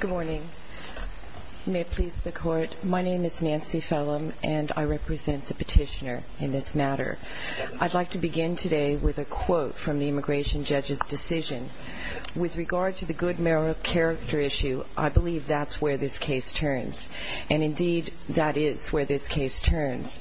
Good morning. May it please the Court, my name is Nancy Fellum, and I represent the petitioner in this matter. I'd like to begin today with a quote from the immigration judge's decision. With regard to the good moral character issue, I believe that's where this case turns. And indeed, that is where this case turns.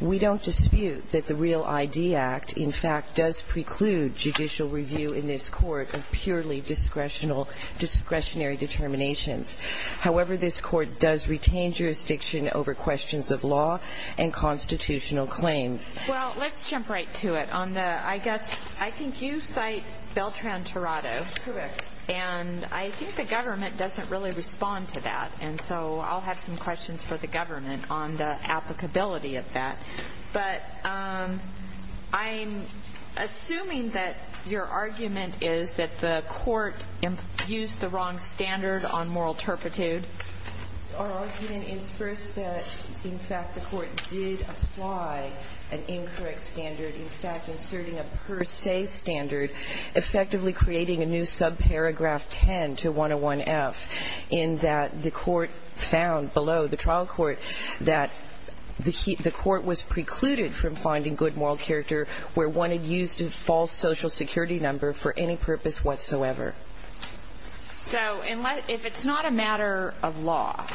We don't dispute that the REAL ID Act, in fact, does preclude judicial review in this Court of purely discretionary determinations. However, this Court does retain jurisdiction over questions of law and constitutional claims. Well, let's jump right to it. I think you cite Beltran-Torado. Correct. And I think the government doesn't really respond to that. And so I'll have some questions for the government on the applicability of that. But I'm assuming that your argument is that the Court used the wrong standard on moral turpitude. Our argument is first that, in fact, the Court did apply an incorrect standard, in fact, inserting a per se standard, effectively creating a new subparagraph 10 to 101F, in that the Court found below the trial court that the Court was precluded from finding good moral character where one had used a false social security number for any purpose whatsoever. So if it's not a matter of law,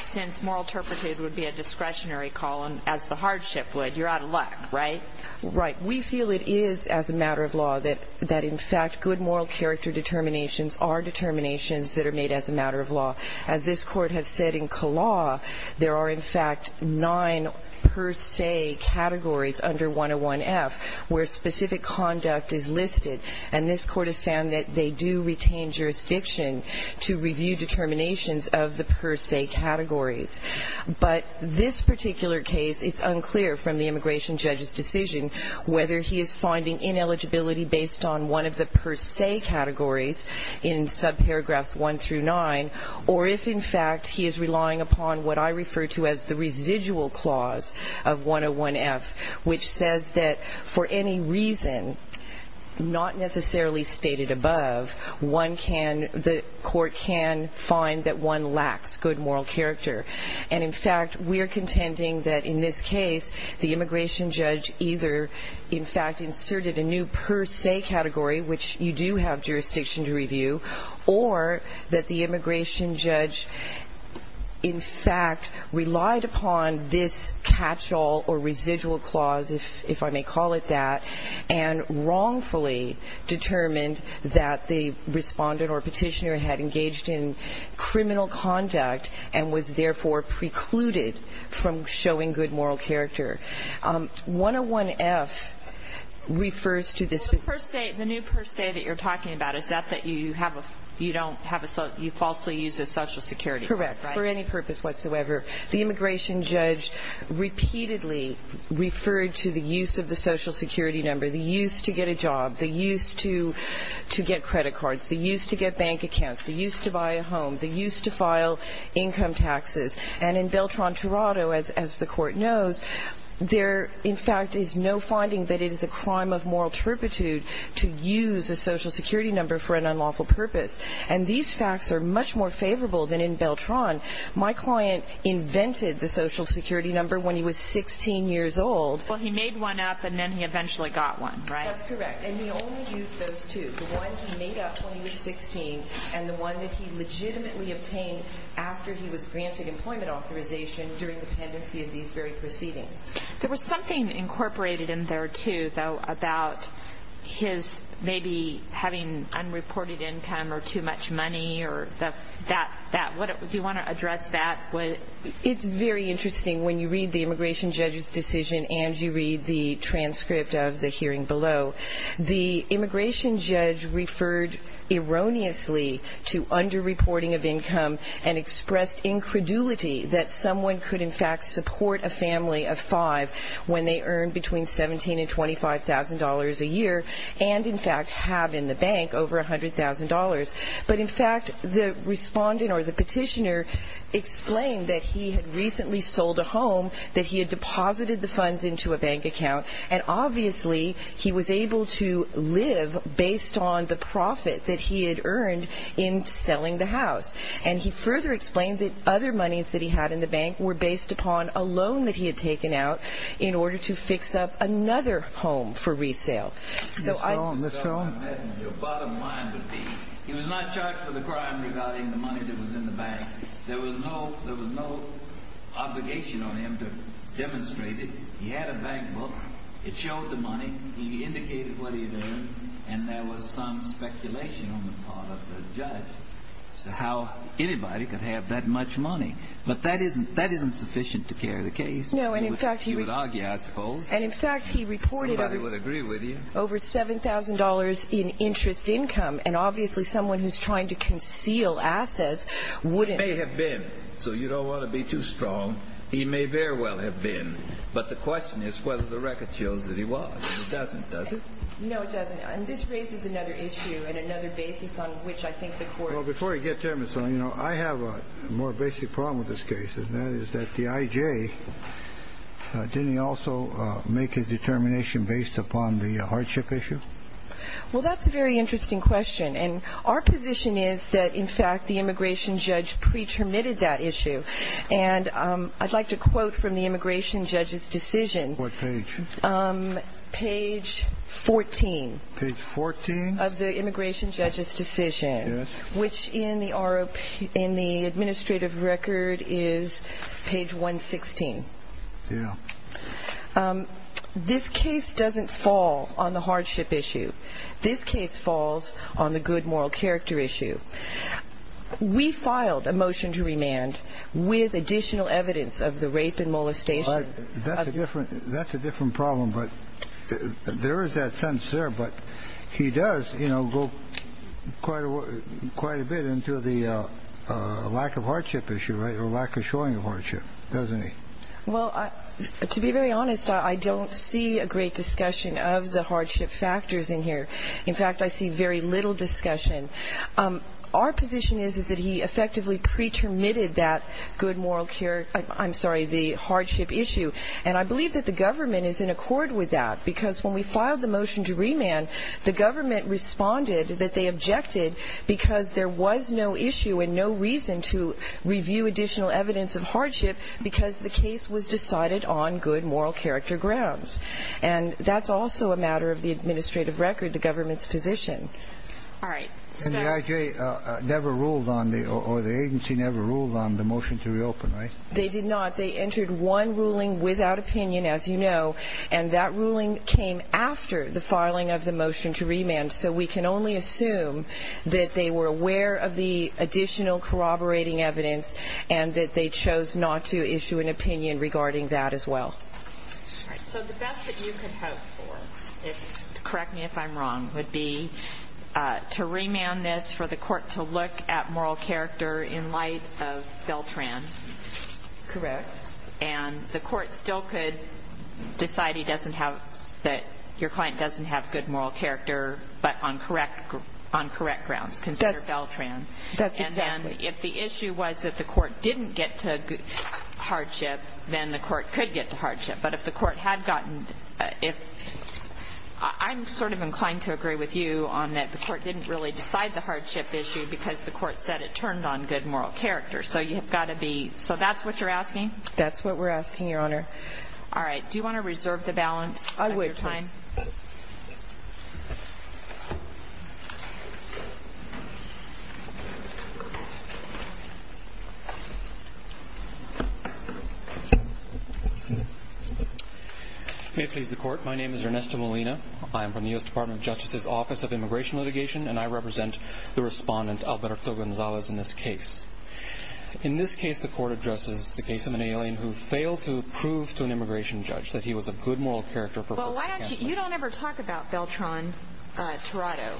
since moral turpitude would be a discretionary column, as the hardship would, you're out of luck, right? Right. We feel it is, as a matter of law, that, in fact, good moral character determinations are determinations that are made as a matter of law. As this Court has said in Kalaw, there are, in fact, nine per se categories under 101F where specific conduct is listed. And this Court has found that they do retain jurisdiction to review determinations of the per se categories. But this particular case, it's unclear from the immigration judge's decision whether he is finding ineligibility based on one of the per se categories in subparagraphs 1 through 9, or if, in fact, he is relying upon what I refer to as the residual clause of 101F, which says that for any reason not necessarily stated above, one can, the Court can find that one lacks good moral character. And, in fact, we're contending that, in this case, the immigration judge either, in fact, inserted a new per se category, which you do have jurisdiction to review, or that the immigration judge, in fact, relied upon this catch-all or residual clause, if I may call it that, and wrongfully determined that the respondent or petitioner had engaged in criminal conduct and was, therefore, precluded from showing good moral character. 101F refers to this. Well, the per se, the new per se that you're talking about, is that you have a, you don't have a, you falsely use a Social Security card, right? Correct. For any purpose whatsoever. The immigration judge repeatedly referred to the use of the Social Security number, the use to get a job, the use to get credit cards, the use to get bank accounts, the use to buy a home, the use to file income taxes. And in Beltran-Toronto, as the Court knows, there, in fact, is no finding that it is a crime of moral turpitude to use a Social Security number for an unlawful purpose. And these facts are much more favorable than in Beltran. My client invented the Social Security number when he was 16 years old. Well, he made one up, and then he eventually got one, right? That's correct. And he only used those two. The one he made up when he was 16, and the one that he legitimately obtained after he was granted employment authorization during the pendency of these very proceedings. There was something incorporated in there, too, though, about his maybe having unreported income or too much money or that. Do you want to address that? It's very interesting when you read the immigration judge's decision and you read the transcript of the hearing below. The immigration judge referred erroneously to underreporting of income and expressed incredulity that someone could, in fact, support a family of five when they earned between $17,000 and $25,000 a year and, in fact, have in the bank over $100,000. But, in fact, the respondent or the petitioner explained that he had recently sold a home, that he had deposited the funds into a bank account, and, obviously, he was able to live based on the profit that he had earned in selling the house. And he further explained that other monies that he had in the bank were based upon a loan that he had taken out in order to fix up another home for resale. So I... Ms. Stone, Ms. Stone. Your bottom line would be he was not charged with a crime regarding the money that was in the bank. There was no obligation on him to demonstrate it. He had a bank book. It showed the money. He indicated what he had earned. And there was some speculation on the part of the judge as to how anybody could have that much money. But that isn't sufficient to carry the case. No, and, in fact, he... He would argue, I suppose. And, in fact, he reported... Somebody would agree with you. Over $7,000 in interest income, and, obviously, someone who's trying to conceal assets wouldn't... It may have been. So you don't want to be too strong. He may very well have been. But the question is whether the record shows that he was. And it doesn't, does it? No, it doesn't. And this raises another issue and another basis on which I think the court... Well, before I get to him, Ms. Stone, you know, I have a more basic problem with this case, and that is that the IJ, didn't he also make a determination based upon the hardship issue? Well, that's a very interesting question. And our position is that, in fact, the immigration judge pre-terminated that issue. And I'd like to quote from the immigration judge's decision. What page? Page 14. Page 14? Of the immigration judge's decision. Yes. Which in the administrative record is page 116. Yeah. This case doesn't fall on the hardship issue. This case falls on the good moral character issue. We filed a motion to remand with additional evidence of the rape and molestation. That's a different problem. There is that sense there, but he does, you know, go quite a bit into the lack of hardship issue, right, or lack of showing of hardship, doesn't he? Well, to be very honest, I don't see a great discussion of the hardship factors in here. In fact, I see very little discussion. Our position is that he effectively pre-terminated that good moral character, I'm sorry, the hardship issue. And I believe that the government is in accord with that because when we filed the motion to remand, the government responded that they objected because there was no issue and no reason to review additional evidence of hardship because the case was decided on good moral character grounds. And that's also a matter of the administrative record, the government's position. All right. And the IJ never ruled on the or the agency never ruled on the motion to reopen, right? They did not. They entered one ruling without opinion, as you know, and that ruling came after the filing of the motion to remand. So we can only assume that they were aware of the additional corroborating evidence and that they chose not to issue an opinion regarding that as well. All right. So the best that you could hope for, correct me if I'm wrong, would be to remand this for the court to look at moral character in light of Beltran. Correct. And the court still could decide he doesn't have – that your client doesn't have good moral character, but on correct grounds, consider Beltran. That's exactly. And then if the issue was that the court didn't get to hardship, then the court could get to hardship. But if the court had gotten – if – I'm sort of inclined to agree with you on that the court didn't really decide the hardship issue because the court said it turned on good moral character. So you've got to be – so that's what you're asking? That's what we're asking, Your Honor. All right. Do you want to reserve the balance of your time? I would, please. May it please the Court. My name is Ernesto Molina. I am from the U.S. Department of Justice's Office of Immigration Litigation, and I represent the respondent, Alberto Gonzalez, in this case. In this case, the court addresses the case of an alien who failed to prove to an immigration judge that he was a good moral character for – Well, why don't you – you don't ever talk about Beltran Tirado.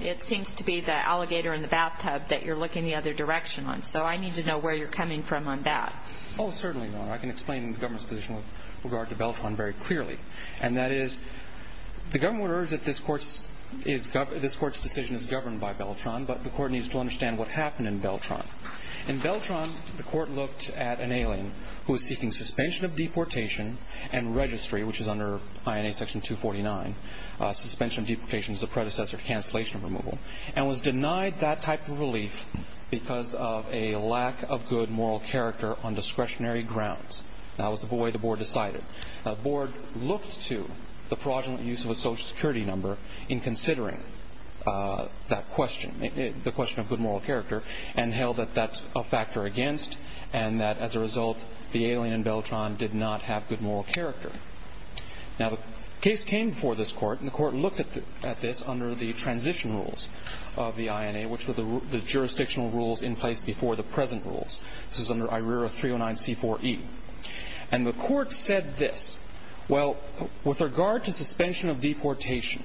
It seems to be the alligator in the bathtub that you're looking the other direction on. So I need to know where you're coming from on that. Oh, certainly, Your Honor. I can explain the government's position with regard to Beltran very clearly. And that is the government orders that this court's decision is governed by Beltran, but the court needs to understand what happened in Beltran. In Beltran, the court looked at an alien who was seeking suspension of deportation and registry, which is under INA Section 249, suspension of deportation is the predecessor to cancellation of removal, and was denied that type of relief because of a lack of good moral character on discretionary grounds. That was the way the board decided. The board looked to the fraudulent use of a Social Security number in considering that question, the question of good moral character, and held that that's a factor against, and that as a result, the alien in Beltran did not have good moral character. Now, the case came before this court, and the court looked at this under the transition rules of the INA, which were the jurisdictional rules in place before the present rules. This is under IRERA 309C4E. And the court said this. Well, with regard to suspension of deportation,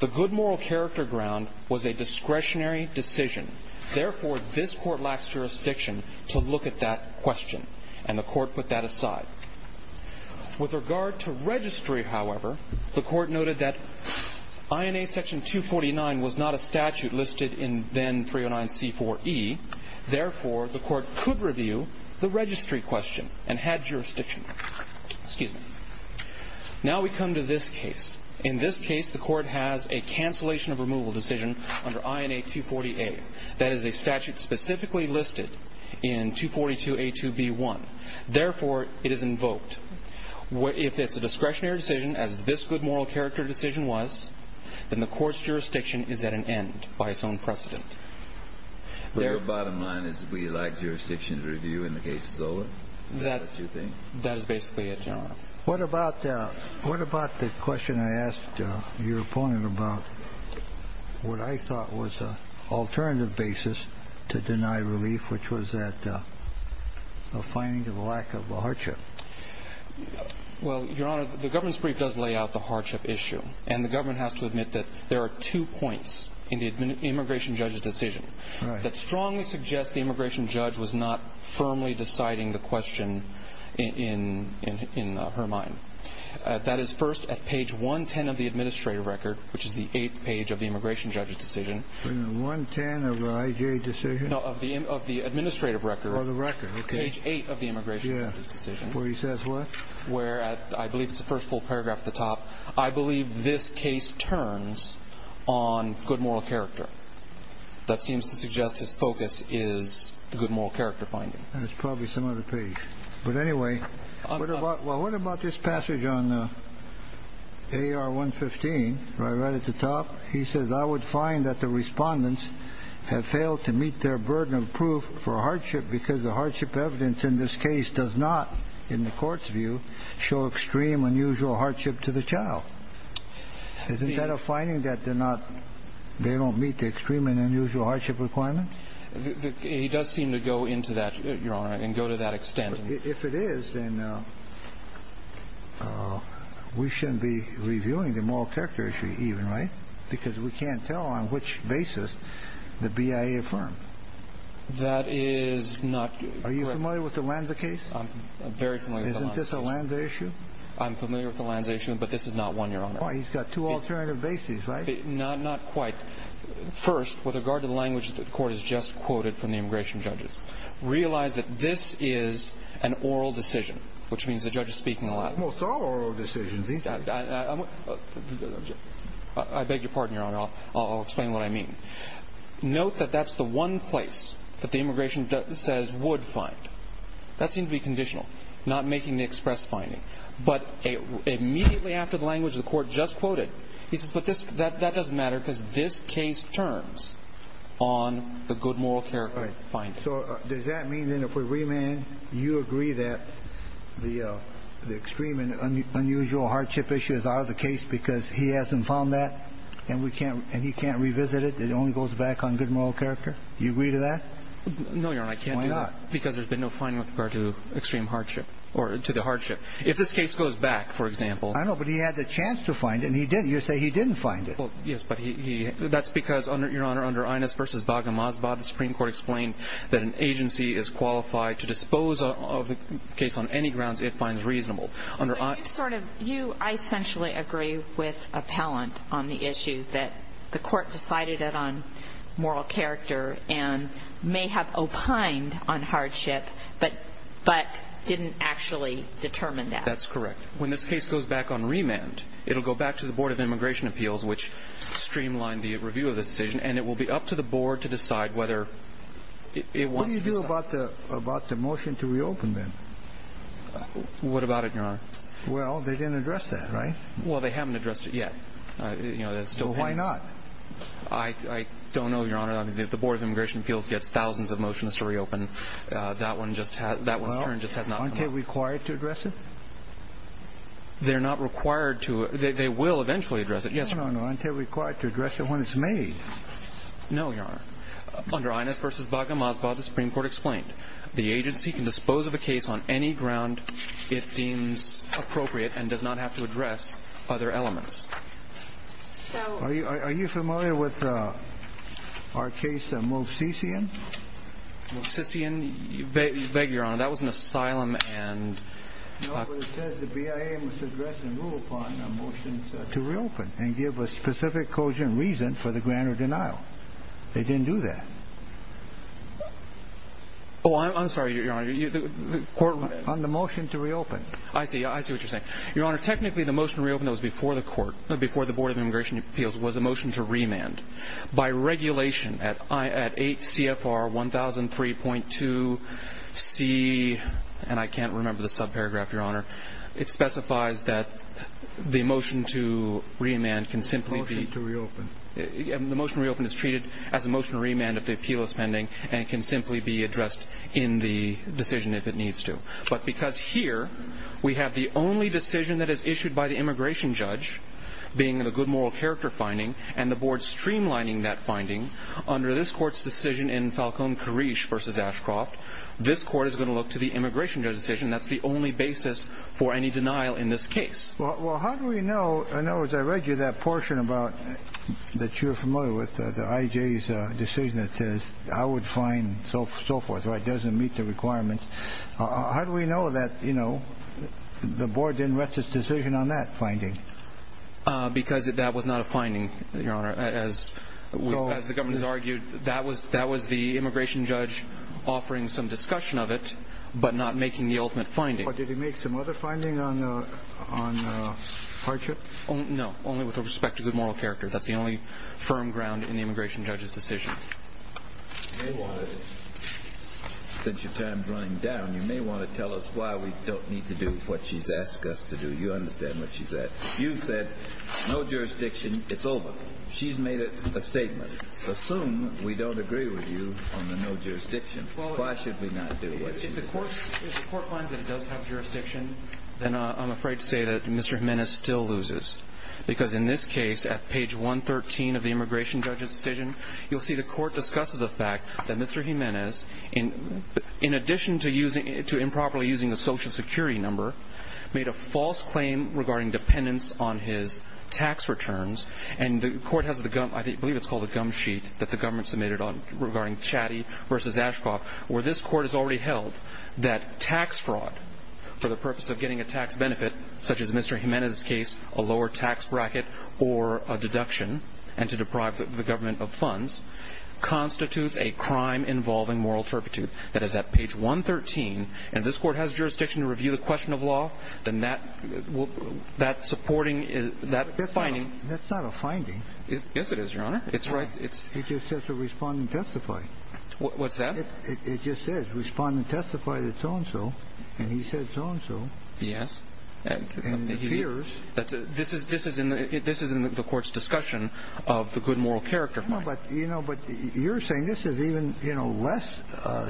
the good moral character ground was a discretionary decision. Therefore, this court lacks jurisdiction to look at that question, and the court put that aside. With regard to registry, however, the court noted that INA Section 249 was not a statute listed in then 309C4E. Therefore, the court could review the registry question and had jurisdiction. Excuse me. Now we come to this case. In this case, the court has a cancellation of removal decision under INA 240A. That is a statute specifically listed in 242A2B1. Therefore, it is invoked. If it's a discretionary decision, as this good moral character decision was, then the court's jurisdiction is at an end by its own precedent. Your bottom line is we lack jurisdiction to review when the case is over? That is basically it, Your Honor. What about the question I asked your opponent about what I thought was an alternative basis to deny relief, which was a finding of lack of hardship? Well, Your Honor, the government's brief does lay out the hardship issue. And the government has to admit that there are two points in the immigration judge's decision that strongly suggest the immigration judge was not firmly deciding the question in her mind. That is, first, at page 110 of the administrative record, which is the eighth page of the immigration judge's decision. Page 110 of the IJ decision? No, of the administrative record. Oh, the record. Okay. Page 8 of the immigration judge's decision. Where he says what? I believe it's the first full paragraph at the top. I believe this case turns on good moral character. That seems to suggest his focus is the good moral character finding. That's probably some other page. But anyway, what about this passage on AR 115, right at the top? He says, I would find that the respondents have failed to meet their burden of proof for hardship because the hardship evidence in this case does not, in the court's view, show extreme unusual hardship to the child. Isn't that a finding that they're not they don't meet the extreme and unusual hardship requirement? He does seem to go into that, Your Honor, and go to that extent. If it is, then we shouldn't be reviewing the moral character issue even, right? Because we can't tell on which basis the BIA affirmed. That is not correct. Are you familiar with the Lanza case? I'm very familiar with the Lanza case. Isn't this a Lanza issue? I'm familiar with the Lanza issue, but this is not one, Your Honor. Why? He's got two alternative bases, right? Not quite. First, with regard to the language that the court has just quoted from the immigration judges, realize that this is an oral decision, which means the judge is speaking in Latin. Almost all oral decisions. I beg your pardon, Your Honor. I'll explain what I mean. Note that that's the one place that the immigration says would find. That seemed to be conditional, not making the express finding. But immediately after the language the court just quoted, he says, but that doesn't matter because this case turns on the good moral character finding. So does that mean that if we remand, you agree that the extreme and unusual hardship issue is out of the case because he hasn't found that and he can't revisit it, it only goes back on good moral character? Do you agree to that? No, Your Honor, I can't do that. Why not? Because there's been no finding with regard to extreme hardship or to the hardship. If this case goes back, for example. I know, but he had the chance to find it and he didn't. You say he didn't find it. Yes, but that's because, Your Honor, under Inez v. Baga-Mazba, the Supreme Court explained that an agency is qualified to dispose of the case on any grounds it finds reasonable. So you sort of – you essentially agree with Appellant on the issue that the court decided it on moral character and may have opined on hardship, but didn't actually determine that. That's correct. When this case goes back on remand, it will go back to the Board of Immigration Appeals, which streamlined the review of the decision, and it will be up to the Board to decide whether it wants to decide. What do you do about the motion to reopen, then? What about it, Your Honor? Well, they didn't address that, right? Well, they haven't addressed it yet. Well, why not? I don't know, Your Honor. The Board of Immigration Appeals gets thousands of motions to reopen. That one's turn just has not come up. Aren't they required to address it? They're not required to – they will eventually address it, yes. No, no, no. Aren't they required to address it when it's made? No, Your Honor. Under Inez v. Baga-Mazba, the Supreme Court explained that the agency can dispose of a case on any ground it deems appropriate and does not have to address other elements. Are you familiar with our case, Moosissian? Moosissian? Beg your honor, that was an asylum and – No, but it says the BIA must address and rule upon a motion to reopen and give a specific cause and reason for the grant or denial. They didn't do that. Oh, I'm sorry, Your Honor. On the motion to reopen. I see. I see what you're saying. Your Honor, technically the motion to reopen that was before the court – before the Board of Immigration Appeals was a motion to remand. By regulation at 8 CFR 1003.2 C – and I can't remember the subparagraph, Your Honor. It specifies that the motion to remand can simply be – Motion to reopen. The motion to reopen is treated as a motion to remand if the appeal is pending and can simply be addressed in the decision if it needs to. But because here we have the only decision that is issued by the immigration judge, being the good moral character finding, and the board streamlining that finding under this court's decision in Falcone-Karish v. Ashcroft, this court is going to look to the immigration judge decision. That's the only basis for any denial in this case. Well, how do we know – I know as I read you that portion about – that you're familiar with, the IJ's decision that says, I would find so forth or it doesn't meet the requirements. How do we know that, you know, the board didn't rest its decision on that finding? Because that was not a finding, Your Honor. As the government has argued, that was the immigration judge offering some discussion of it, but not making the ultimate finding. Well, did he make some other finding on hardship? No, only with respect to good moral character. That's the only firm ground in the immigration judge's decision. You may want to, since your time is running down, you may want to tell us why we don't need to do what she's asked us to do. You understand what she said. You said no jurisdiction, it's over. She's made a statement. Assume we don't agree with you on the no jurisdiction. Why should we not do what she said? If the court finds that it does have jurisdiction, then I'm afraid to say that Mr. Jimenez still loses. Because in this case, at page 113 of the immigration judge's decision, you'll see the court discusses the fact that Mr. Jimenez, in addition to improperly using a Social Security number, made a false claim regarding dependence on his tax returns, and the court has the gum, I believe it's called a gum sheet, that the government submitted regarding Chattie v. Ashcroft, where this court has already held that tax fraud, for the purpose of getting a tax benefit, such as Mr. Jimenez's case, a lower tax bracket or a deduction, and to deprive the government of funds, constitutes a crime involving moral turpitude. That is at page 113. And if this court has jurisdiction to review the question of law, then that supporting, that finding... That's not a finding. Yes, it is, Your Honor. It just says to respond and testify. What's that? It just says respond and testify to so-and-so, and he said so-and-so. Yes. And it appears... This is in the court's discussion of the good moral character finding. No, but you're saying this is even less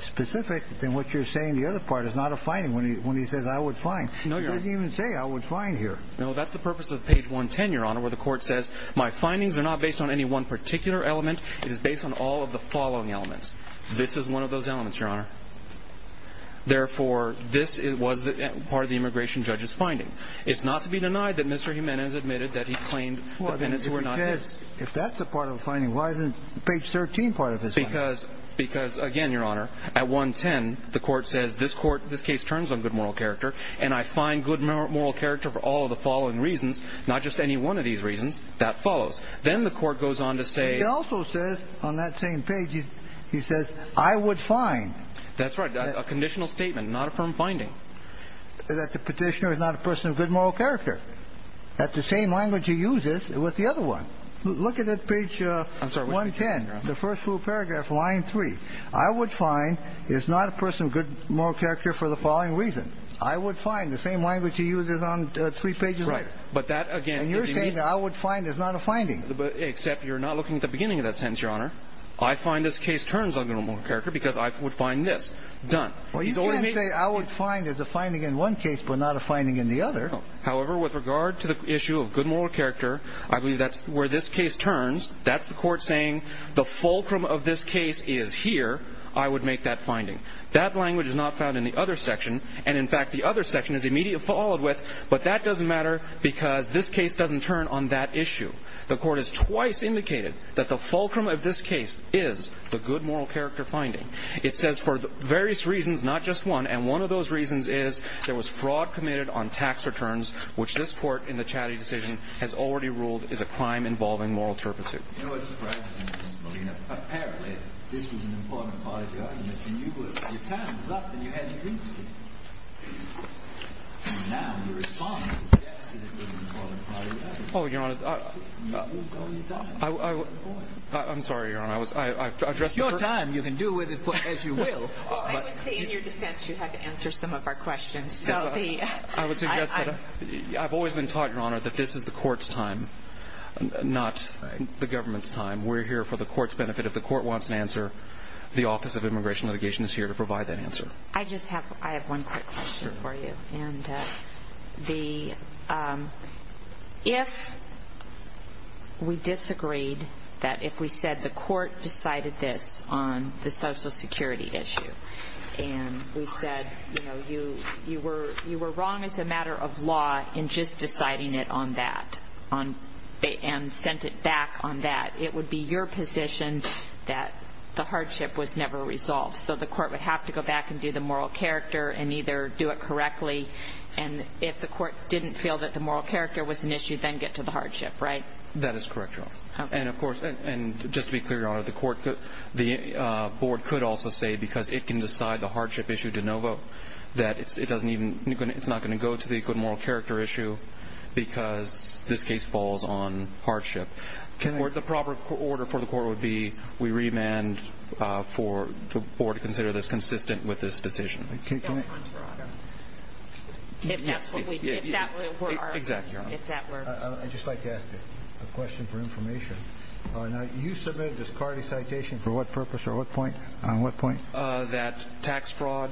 specific than what you're saying the other part is not a finding, when he says, I would find. No, Your Honor. He doesn't even say, I would find here. No, that's the purpose of page 110, Your Honor, where the court says, my findings are not based on any one particular element, it is based on all of the following elements. This is one of those elements, Your Honor. Therefore, this was part of the immigration judge's finding. It's not to be denied that Mr. Jimenez admitted that he claimed the penance were not his. If that's a part of a finding, why isn't page 13 part of his finding? Because, again, Your Honor, at 110, the court says, this case turns on good moral character, and I find good moral character for all of the following reasons, not just any one of these reasons, that follows. Then the court goes on to say... He also says on that same page, he says, I would find... That's right. A conditional statement, not a firm finding. That the Petitioner is not a person of good moral character. That the same language he uses with the other one. Look at page 110, the first full paragraph, line 3. I would find is not a person of good moral character for the following reason. I would find, the same language he uses on three pages later. Right. But that, again... And you're saying that I would find is not a finding. Except you're not looking at the beginning of that sentence, Your Honor. I find this case turns on good moral character because I would find this. Done. Well, you can't say I would find is a finding in one case but not a finding in the other. However, with regard to the issue of good moral character, I believe that's where this case turns. That's the court saying, the fulcrum of this case is here. I would make that finding. That language is not found in the other section. And, in fact, the other section is immediately followed with, but that doesn't matter because this case doesn't turn on that issue. The court has twice indicated that the fulcrum of this case is the good moral character finding. It says for various reasons, not just one, and one of those reasons is there was fraud committed on tax returns, which this court, in the Chatty decision, has already ruled is a crime involving moral turpitude. You know what surprises me, Mr. Molina? Apparently, this was an important part of the argument, and you blew it. Your time was up, and you hadn't reached it. And now you're responding. Yes, it was an important part of the argument. Oh, Your Honor, I'm sorry, Your Honor. There's no time. You can do with it as you will. I would say, in your defense, you have to answer some of our questions. I would suggest that I've always been taught, Your Honor, that this is the court's time, not the government's time. We're here for the court's benefit. If the court wants an answer, the Office of Immigration Litigation is here to provide that answer. I just have one quick question for you. If we disagreed that if we said the court decided this on the Social Security issue and we said, you know, you were wrong as a matter of law in just deciding it on that and sent it back on that, it would be your position that the hardship was never resolved. So the court would have to go back and do the moral character and either do it correctly. And if the court didn't feel that the moral character was an issue, then get to the hardship, right? That is correct, Your Honor. And, of course, and just to be clear, Your Honor, the board could also say, because it can decide the hardship issue de novo, that it's not going to go to the good moral character issue because this case falls on hardship. The proper order for the court would be we remand for the board to consider this consistent with this decision. It falls on fraud. If that were our opinion. Exactly, Your Honor. I'd just like to ask you a question for information. You submitted this CARDI citation for what purpose or on what point? That tax fraud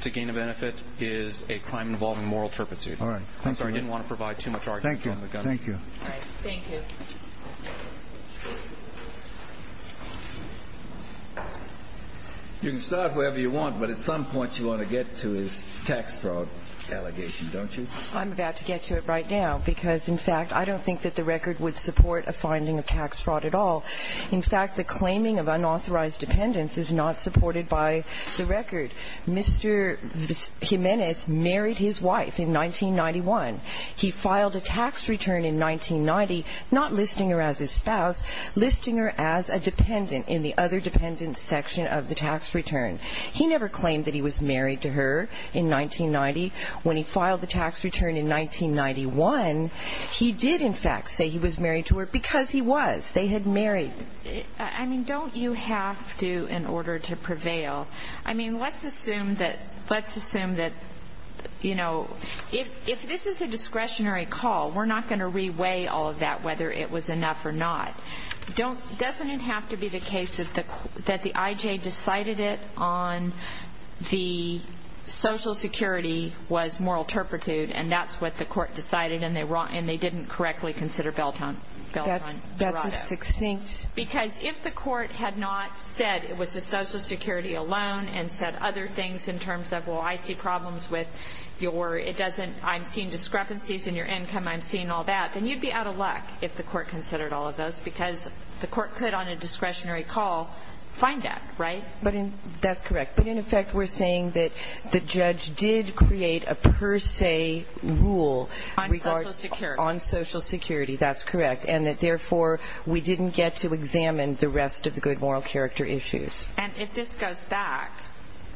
to gain a benefit is a crime involving moral turpitude. All right. I'm sorry, I didn't want to provide too much argument from the government. Thank you. Thank you. You can start wherever you want, but at some point you want to get to his tax fraud allegation, don't you? I'm about to get to it right now because, in fact, I don't think that the record would support a finding of tax fraud at all. In fact, the claiming of unauthorized dependence is not supported by the record. Mr. Jimenez married his wife in 1991. He filed a tax return in 1990 not listing her as his spouse, listing her as a dependent in the other dependent section of the tax return. He never claimed that he was married to her in 1990. When he filed the tax return in 1991, he did, in fact, say he was married to her because he was. They had married. I mean, don't you have to in order to prevail? I mean, let's assume that, you know, if this is a discretionary call, we're not going to reweigh all of that whether it was enough or not. Doesn't it have to be the case that the I.J. decided it on the Social Security was moral turpitude, and that's what the court decided and they didn't correctly consider Beltone Dorado? That's a succinct. Because if the court had not said it was the Social Security alone and said other things in terms of, well, I see problems with your or it doesn't, I'm seeing discrepancies in your income, I'm seeing all that, then you'd be out of luck if the court considered all of those because the court could on a discretionary call find that, right? That's correct. But, in effect, we're saying that the judge did create a per se rule on Social Security. That's correct. And that, therefore, we didn't get to examine the rest of the good moral character issues. And if this goes back,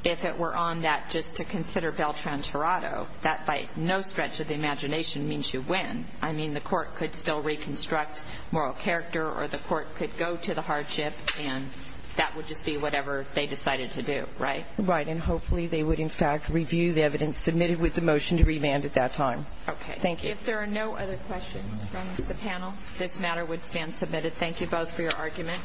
if it were on that just to consider Beltone Dorado, that by no stretch of the imagination means you win. I mean, the court could still reconstruct moral character or the court could go to the hardship and that would just be whatever they decided to do, right? Right. And hopefully they would, in fact, review the evidence submitted with the motion to remand at that time. Okay. Thank you. If there are no other questions from the panel, this matter would stand submitted. Thank you both for your argument.